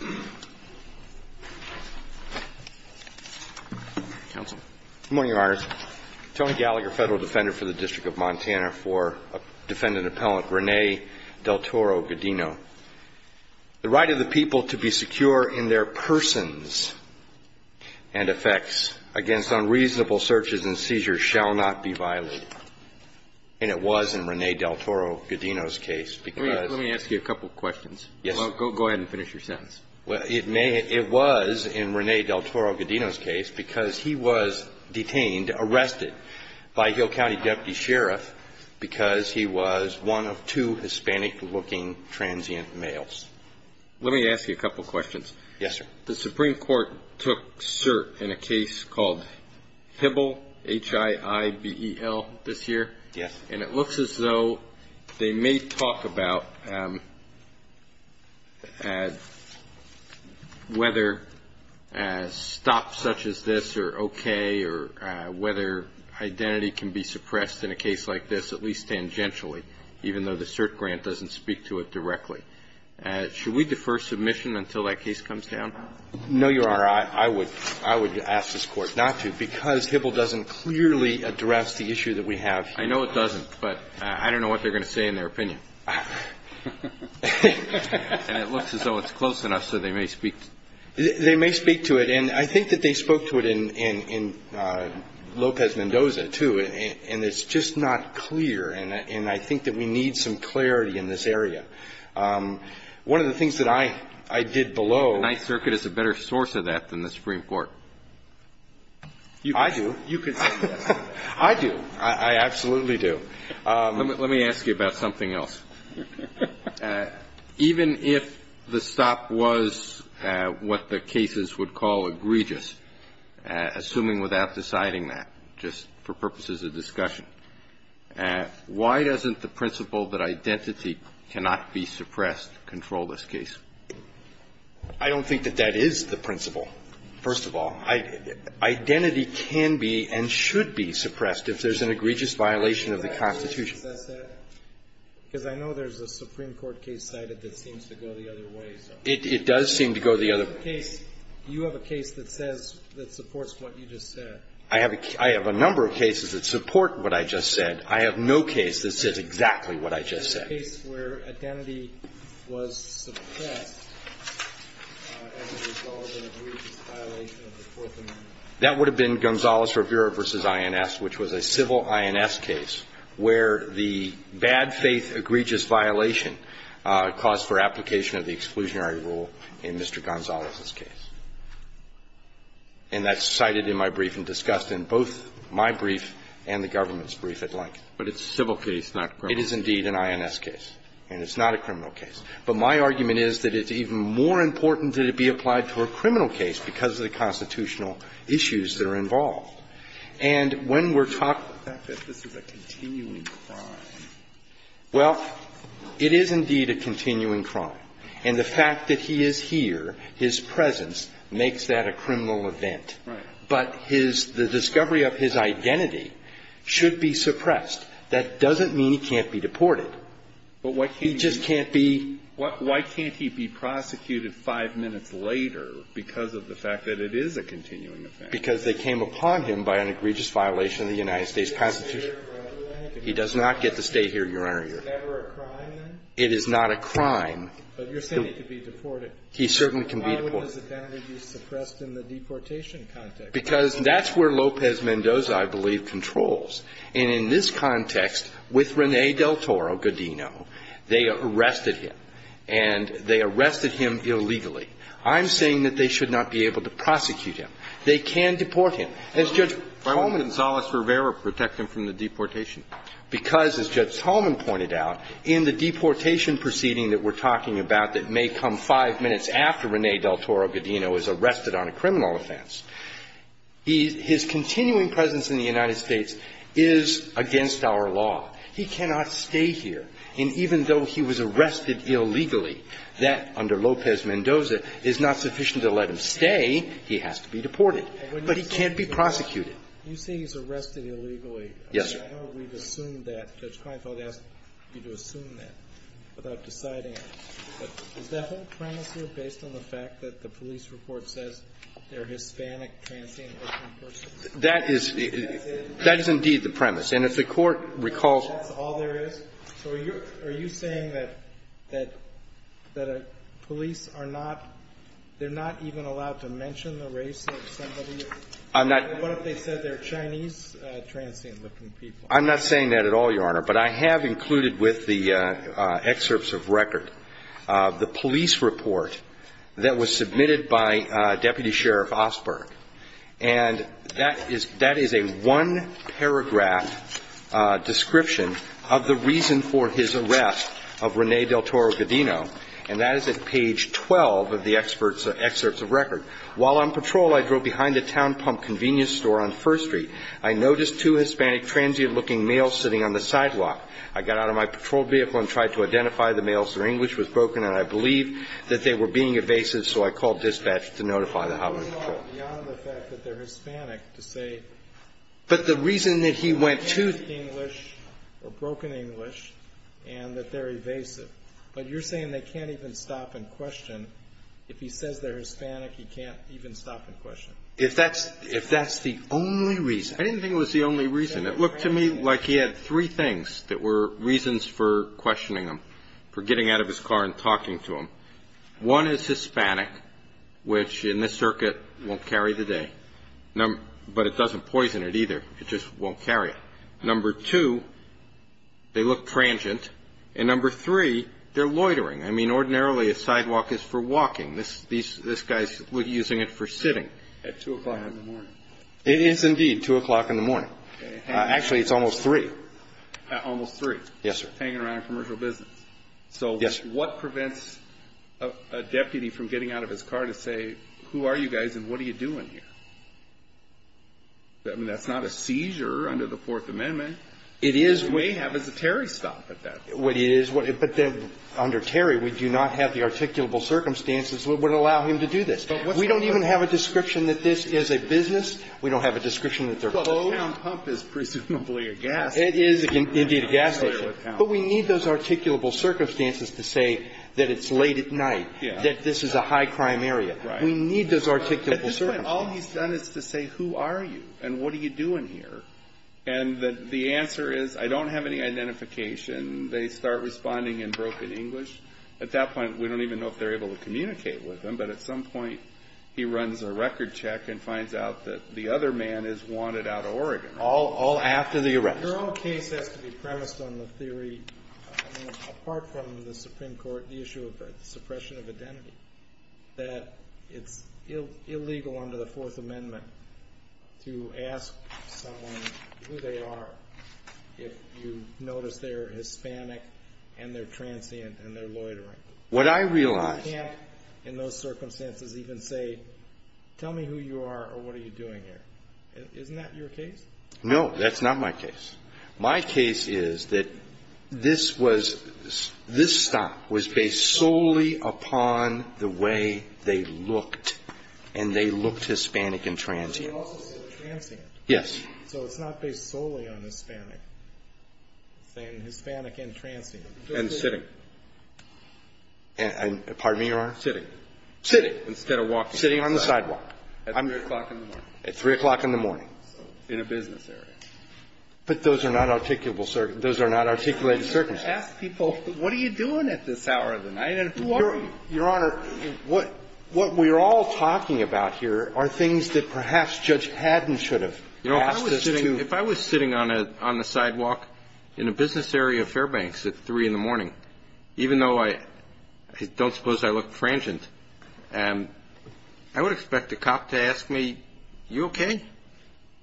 Good morning, Your Honors. Tony Gallagher, Federal Defender for the District of Montana for Defendant Appellant, Rene Del Toro Gudino. The right of the people to be secure in their persons and effects against unreasonable searches and seizures shall not be violated. And it was in Rene Del Toro Gudino's case because he was detained, arrested, by a Hill County Deputy Sheriff because he was one of two Hispanic-looking transient males. Let me ask you a couple questions. Yes, sir. The Supreme Court took cert in a case called HIBEL, H-I-I-B-E-L, this year. Yes. And it looks as though they may talk about whether stops such as this are okay or whether identity can be suppressed in a case like this, at least tangentially, even though the cert grant doesn't speak to it directly. Should we defer submission until that case comes down? No, Your Honor. I would ask this Court not to because HIBEL doesn't clearly address the issue that we have here. No, it doesn't. But I don't know what they're going to say in their opinion. And it looks as though it's close enough so they may speak to it. They may speak to it. And I think that they spoke to it in Lopez-Mendoza, too. And it's just not clear. And I think that we need some clarity in this area. One of the things that I did below The Ninth Circuit is a better source of that than the Supreme Court. I do. You can say that. I do. I absolutely do. Let me ask you about something else. Even if the stop was what the cases would call egregious, assuming without deciding that, just for purposes of discussion, why doesn't the principle that identity cannot be suppressed control this case? I don't think that that is the principle, first of all. Identity can be and should be suppressed if there's an egregious violation of the Constitution. Because I know there's a Supreme Court case cited that seems to go the other way. It does seem to go the other way. You have a case that says, that supports what you just said. I have a number of cases that support what I just said. I have no case that says exactly what I just said. Is there a case where identity was suppressed as a result of an egregious violation of the Fourth Amendment? That would have been Gonzalez-Rivera v. INS, which was a civil INS case where the bad faith egregious violation caused for application of the exclusionary rule in Mr. Gonzalez's case. And that's cited in my brief and discussed in both my brief and the government's But it's a civil case, not criminal. It is indeed an INS case. And it's not a criminal case. But my argument is that it's even more important that it be applied to a criminal case because of the constitutional issues that are involved. And when we're talking about the fact that this is a continuing crime, well, it is indeed a continuing crime. And the fact that he is here, his presence, makes that a criminal event. Right. But his – the discovery of his identity should be suppressed. That doesn't mean he can't be deported. He just can't be – But why can't he be – why can't he be prosecuted five minutes later because of the fact that it is a continuing event? Because they came upon him by an egregious violation of the United States Constitution. He does not get to stay here, Your Honor. Is it never a crime, then? It is not a crime. But you're saying he could be deported. He certainly can be deported. Why would his identity be suppressed in the deportation context? Because that's where Lopez-Mendoza, I believe, controls. And in this context, with René del Toro Godino, they arrested him. And they arrested him illegally. I'm saying that they should not be able to prosecute him. They can deport him. Why wouldn't González-Rivera protect him from the deportation? Because, as Judge Solomon pointed out, in the deportation proceeding that we're talking about that may come five minutes after René del Toro Godino is arrested on a criminal offense, his continuing presence in the United States is against our law. He cannot stay here. And even though he was arrested illegally, that, under Lopez-Mendoza, is not sufficient to let him stay. He has to be deported. But he can't be prosecuted. You say he's arrested illegally. Yes, sir. I know we've assumed that. Judge Kleinfeld asked you to assume that without deciding it. But is that whole premise here based on the fact that the police report says they're Hispanic, transient, open persons? That is indeed the premise. And if the Court recalls— That's all there is? So are you saying that police are not—they're not even allowed to mention the race of somebody? I'm not— What if they said they're Chinese, transient, open people? I'm not saying that at all, Your Honor. But I have included with the excerpts of record the police report that was submitted by Deputy Sheriff Osberg. And that is a one-paragraph description of the reason for his arrest of Rene Del Toro Godino. And that is at page 12 of the excerpts of record. While on patrol, I drove behind a town pump convenience store on First Street. I noticed two Hispanic, transient-looking males sitting on the sidewalk. I got out of my patrol vehicle and tried to identify the males. Their English was broken. And I believe that they were being evasive, so I called dispatch to notify the Hollywood Patrol. Your Honor, the fact that they're Hispanic to say— But the reason that he went to— They had broken English and that they're evasive. But you're saying they can't even stop in question. If he says they're Hispanic, he can't even stop in question. If that's the only reason— I didn't think it was the only reason. It looked to me like he had three things that were reasons for questioning him, for getting out of his car and talking to him. One is Hispanic, which in this circuit won't carry the day. But it doesn't poison it either. It just won't carry it. Number two, they look transient. And number three, they're loitering. I mean, ordinarily, a sidewalk is for walking. This guy's using it for sitting. At 2 o'clock in the morning. It is, indeed, 2 o'clock in the morning. Actually, it's almost 3. Almost 3. Yes, sir. Hanging around commercial business. Yes, sir. So what prevents a deputy from getting out of his car to say, who are you guys and what are you doing here? I mean, that's not a seizure under the Fourth Amendment. It is. We have as a Terry stop at that. What it is, but then under Terry, we do not have the articulable circumstances that would allow him to do this. We don't even have a description that this is a business. We don't have a description that they're going to count. Well, O&M Pump is presumably a gas station. It is, indeed, a gas station. But we need those articulable circumstances to say that it's late at night, that this is a high-crime area. Right. We need those articulable circumstances. At this point, all he's done is to say, who are you and what are you doing here? And the answer is, I don't have any identification. They start responding in broken English. At that point, we don't even know if they're able to communicate with him. But at some point, he runs a record check and finds out that the other man is wanted out of Oregon. All after the arrest. Your own case has to be premised on the theory, apart from the Supreme Court, the issue of suppression of identity, that it's illegal under the Fourth Amendment to ask someone who they are if you notice they're Hispanic and they're transient and they're loitering. What I realize… You can't, in those circumstances, even say, tell me who you are or what are you doing here. Isn't that your case? No, that's not my case. My case is that this was, this stop was based solely upon the way they looked and they looked Hispanic and transient. But you also said transient. Yes. So it's not based solely on Hispanic, saying Hispanic and transient. And sitting. Pardon me, Your Honor? Sitting. Sitting. Instead of walking. Sitting on the sidewalk. At 3 o'clock in the morning. At 3 o'clock in the morning. In a business area. But those are not articulable circumstances. Those are not articulated circumstances. Ask people, what are you doing at this hour of the night and who are you? Your Honor, what we're all talking about here are things that perhaps Judge Haddon should have asked us to… You know, if I was sitting on the sidewalk in a business area of Fairbanks at 3 in the morning, even though I don't suppose I look transient, I would expect a cop to ask me, you okay?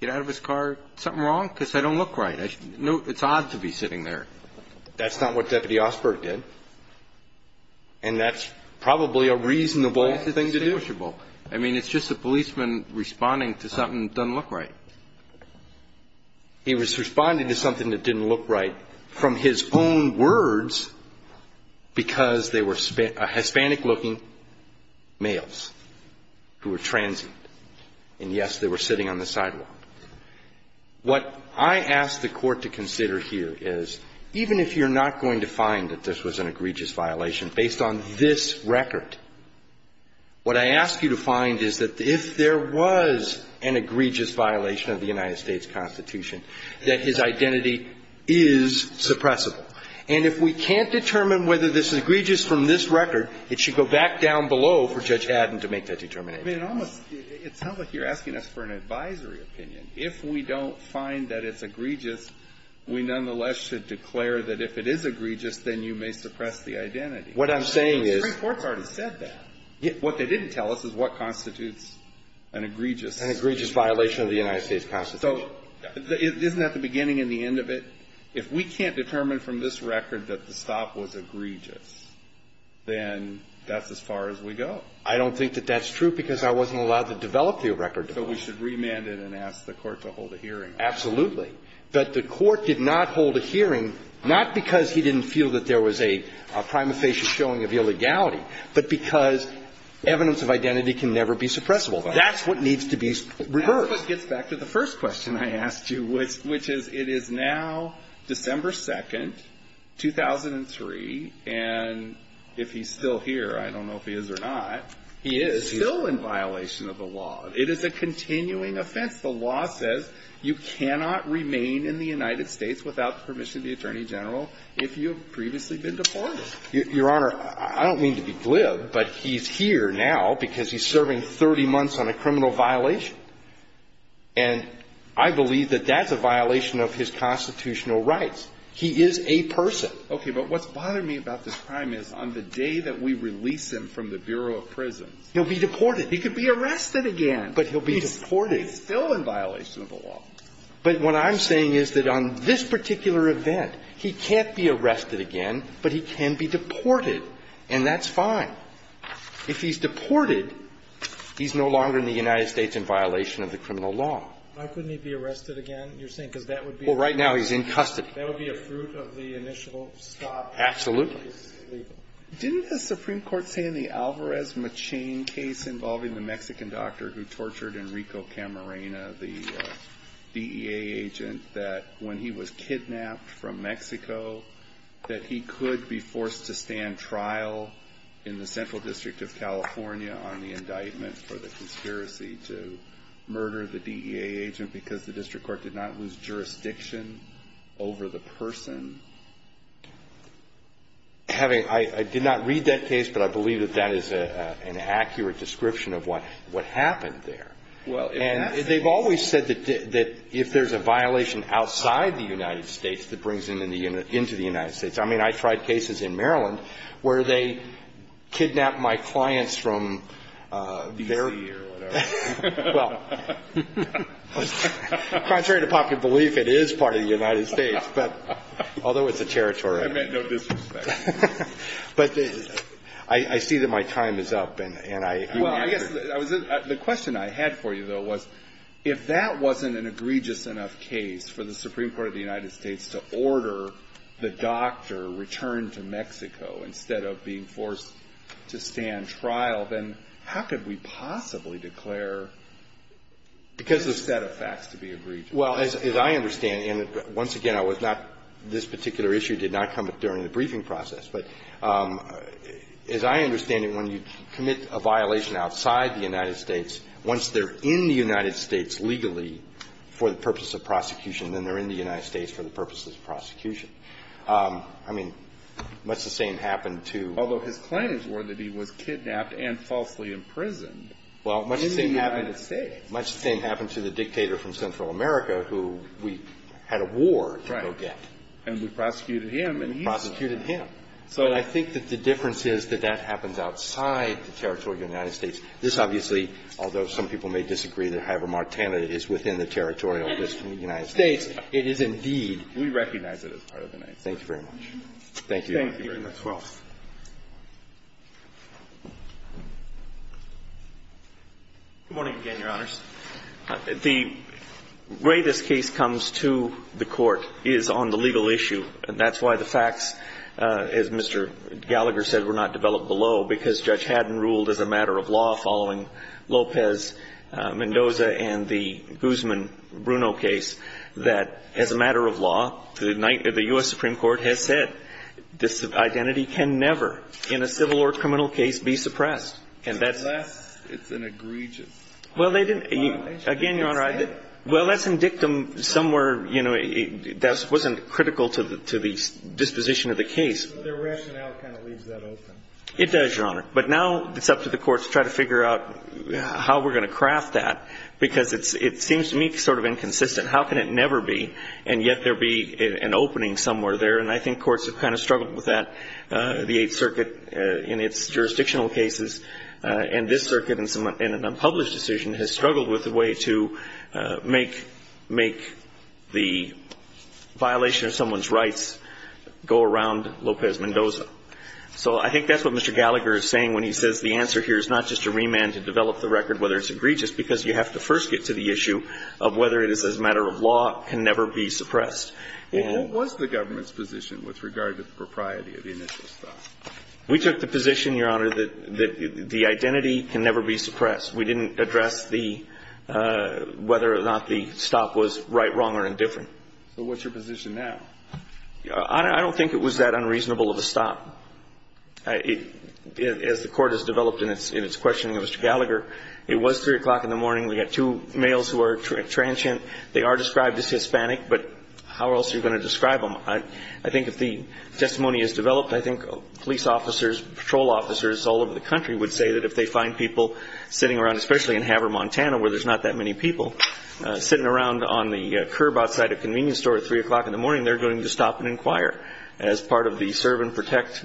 Get out of his car. Something wrong? Because I don't look right. It's odd to be sitting there. That's not what Deputy Osberg did. And that's probably a reasonable thing to do. I mean, it's just a policeman responding to something that doesn't look right. He was responding to something that didn't look right from his own words because they were Hispanic-looking males who were transient. And yes, they were sitting on the sidewalk. What I ask the court to consider here is, even if you're not going to find that this was an egregious violation based on this record, what I ask you to find is that if there was an egregious violation of the United States Constitution, that his identity is suppressible. And if we can't determine whether this is egregious from this record, it should go back down below for Judge Haddon to make that determination. I mean, it almost — it sounds like you're asking us for an advisory opinion. If we don't find that it's egregious, we nonetheless should declare that if it is egregious, then you may suppress the identity. What I'm saying is — But the Supreme Court's already said that. What they didn't tell us is what constitutes an egregious — An egregious violation of the United States Constitution. So isn't that the beginning and the end of it? If we can't determine from this record that the stop was egregious, then that's as far as we go. I don't think that that's true because I wasn't allowed to develop the record. So we should remand it and ask the Court to hold a hearing. Absolutely. But the Court did not hold a hearing, not because he didn't feel that there was a prima facie showing of illegality, but because evidence of identity can never be suppressible. That's what needs to be reversed. That's what gets back to the first question I asked you, which is it is now December 2nd, 2003. And if he's still here, I don't know if he is or not, he is still in violation of the law. It is a continuing offense. The law says you cannot remain in the United States without permission of the Attorney General if you have previously been deported. Your Honor, I don't mean to be glib, but he's here now because he's serving 30 months on a criminal violation. And I believe that that's a violation of his constitutional rights. He is a person. Okay, but what's bothering me about this crime is on the day that we release him from the Bureau of Prisons — He'll be deported. He could be arrested again. But he'll be deported. But he's still in violation of the law. But what I'm saying is that on this particular event, he can't be arrested again, but he can be deported. And that's fine. If he's deported, he's no longer in the United States in violation of the criminal law. Why couldn't he be arrested again, you're saying? Because that would be — Well, right now he's in custody. That would be a fruit of the initial stop. Absolutely. Didn't the Supreme Court say in the Alvarez-Machin case involving the Mexican doctor who tortured Enrico Camarena, the DEA agent, that when he was kidnapped from Mexico, that he could be forced to stand trial in the Central District of California on the indictment for the conspiracy to murder the DEA agent because the district I did not read that case, but I believe that that is an accurate description of what happened there. And they've always said that if there's a violation outside the United States, that brings him into the United States. I mean, I tried cases in Maryland where they kidnapped my clients from their — D.C. or whatever. Well, contrary to popular belief, it is part of the United States. Although it's a territory — I meant no disrespect. But I see that my time is up, and I — Well, I guess the question I had for you, though, was if that wasn't an egregious enough case for the Supreme Court of the United States to order the doctor returned to Mexico instead of being forced to stand trial, then how could we possibly declare — because there's a set of facts to be egregious. Well, as I understand — and once again, I was not — this particular issue did not come up during the briefing process. But as I understand it, when you commit a violation outside the United States, once they're in the United States legally for the purpose of prosecution, then they're in the United States for the purposes of prosecution. I mean, much the same happened to — Although his claims were that he was kidnapped and falsely imprisoned in the United States. Much the same happened to the dictator from Central America who we had a war to go get. Right. And we prosecuted him, and he — Prosecuted him. So I think that the difference is that that happens outside the territory of the United States. This, obviously, although some people may disagree that Hyper-Martana is within the territorial district of the United States, it is indeed — We recognize it as part of the United States. Thank you. Thank you very much. Thank you, Your Honor. Good morning again, Your Honors. The way this case comes to the Court is on the legal issue. And that's why the facts, as Mr. Gallagher said, were not developed below, because Judge Haddon ruled as a matter of law following Lopez-Mendoza and the Guzman-Bruno case, that as a matter of law, the U.S. Supreme Court has said that this identity can never, in a civil or criminal case, be suppressed. Unless it's an egregious violation. Well, they didn't — again, Your Honor, I — Well, that's in dictum somewhere, you know, that wasn't critical to the disposition of the case. Their rationale kind of leaves that open. It does, Your Honor. But now it's up to the Court to try to figure out how we're going to craft that, because it seems to me sort of inconsistent. How can it never be, and yet there be an opening somewhere there? And I think courts have kind of struggled with that. The Eighth Circuit, in its jurisdictional cases, and this circuit in an unpublished decision, has struggled with a way to make — make the violation of someone's rights go around Lopez-Mendoza. So I think that's what Mr. Gallagher is saying when he says the answer here is not just to remand to develop the record, whether it's egregious, because you have to first get to the issue of whether it is as a matter of law can never be suppressed. And what was the government's position with regard to the propriety of the initial stop? We took the position, Your Honor, that the identity can never be suppressed. We didn't address the — whether or not the stop was right, wrong, or indifferent. So what's your position now? I don't think it was that unreasonable of a stop. As the Court has developed in its questioning of Mr. Gallagher, it was 3 o'clock in the morning. We've got two males who are transient. They are described as Hispanic, but how else are you going to describe them? I think if the testimony is developed, I think police officers, patrol officers all over the country would say that if they find people sitting around, especially in Haver, Montana, where there's not that many people, sitting around on the curb outside a convenience store at 3 o'clock in the morning, they're going to stop and inquire as part of the serve and protect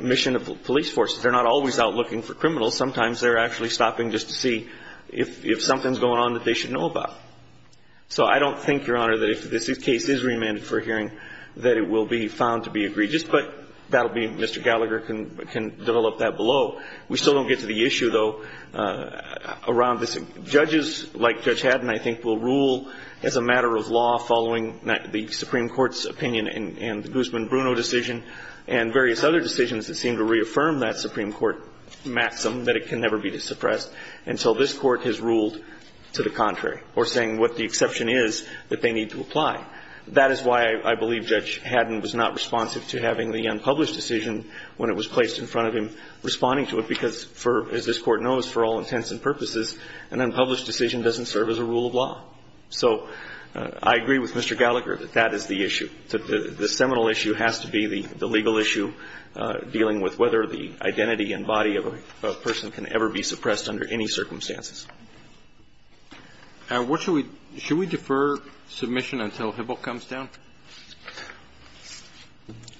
mission of the police force. They're not always out looking for criminals. Sometimes they're actually stopping just to see if something's going on that they should know about. So I don't think, Your Honor, that if this case is remanded for hearing, that it will be found to be egregious, but that will be Mr. Gallagher can develop that below. We still don't get to the issue, though, around this. Judges like Judge Haddon, I think, will rule as a matter of law following the Supreme Court's opinion and the Guzman-Bruno decision and various other decisions that seem to reaffirm that Supreme Court maxim that it can never be suppressed until this Court has ruled to the contrary or saying what the exception is that they need to apply. That is why I believe Judge Haddon was not responsive to having the unpublished decision when it was placed in front of him responding to it, because for, as this Court knows, for all intents and purposes, an unpublished decision doesn't serve as a rule of law. So I agree with Mr. Gallagher that that is the issue. The seminal issue has to be the legal issue dealing with whether the identity and body of a person can ever be suppressed under any circumstances. And what should we do? Should we defer submission until Hibble comes down?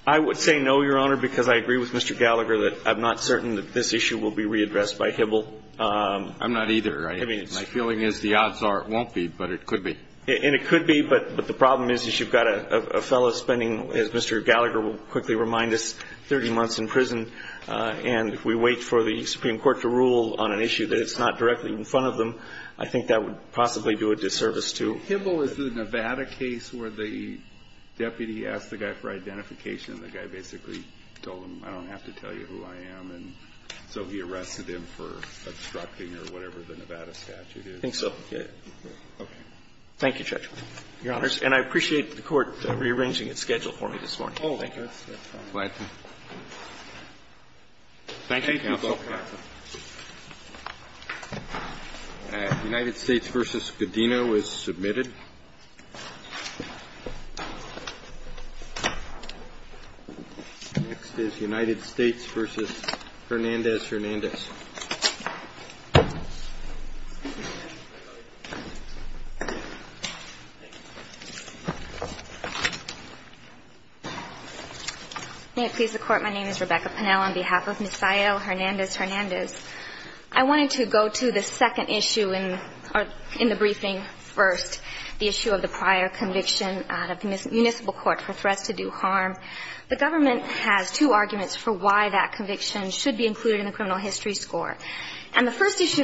I would say no, Your Honor, because I agree with Mr. Gallagher that I'm not certain that this issue will be readdressed by Hibble. I'm not either. I mean, my feeling is the odds are it won't be, but it could be. And it could be, but the problem is, is you've got a fellow spending, as Mr. Gallagher will quickly remind us, 30 months in prison. And if we wait for the Supreme Court to rule on an issue that it's not directly in front of them, I think that would possibly do a disservice to Hibble. Kennedy, is the Nevada case where the deputy asked the guy for identification and the guy basically told him, I don't have to tell you who I am, and so he arrested him for obstructing or whatever the Nevada statute is? I think so. Okay. Thank you, Judge. Your Honors. And I appreciate the Court rearranging its schedule for me this morning. Thank you. Thank you, Counsel. United States v. Godino is submitted. Next is United States v. Hernandez-Hernandez. May it please the Court, my name is Rebecca Pennell. On behalf of Ms. Sayo Hernandez-Hernandez, I wanted to go to the second issue in the briefing first, the issue of the prior conviction out of the municipal court for threats to do harm. The government has two arguments for why that conviction should be included in the criminal history score. And the first issue they raised was to make it clear,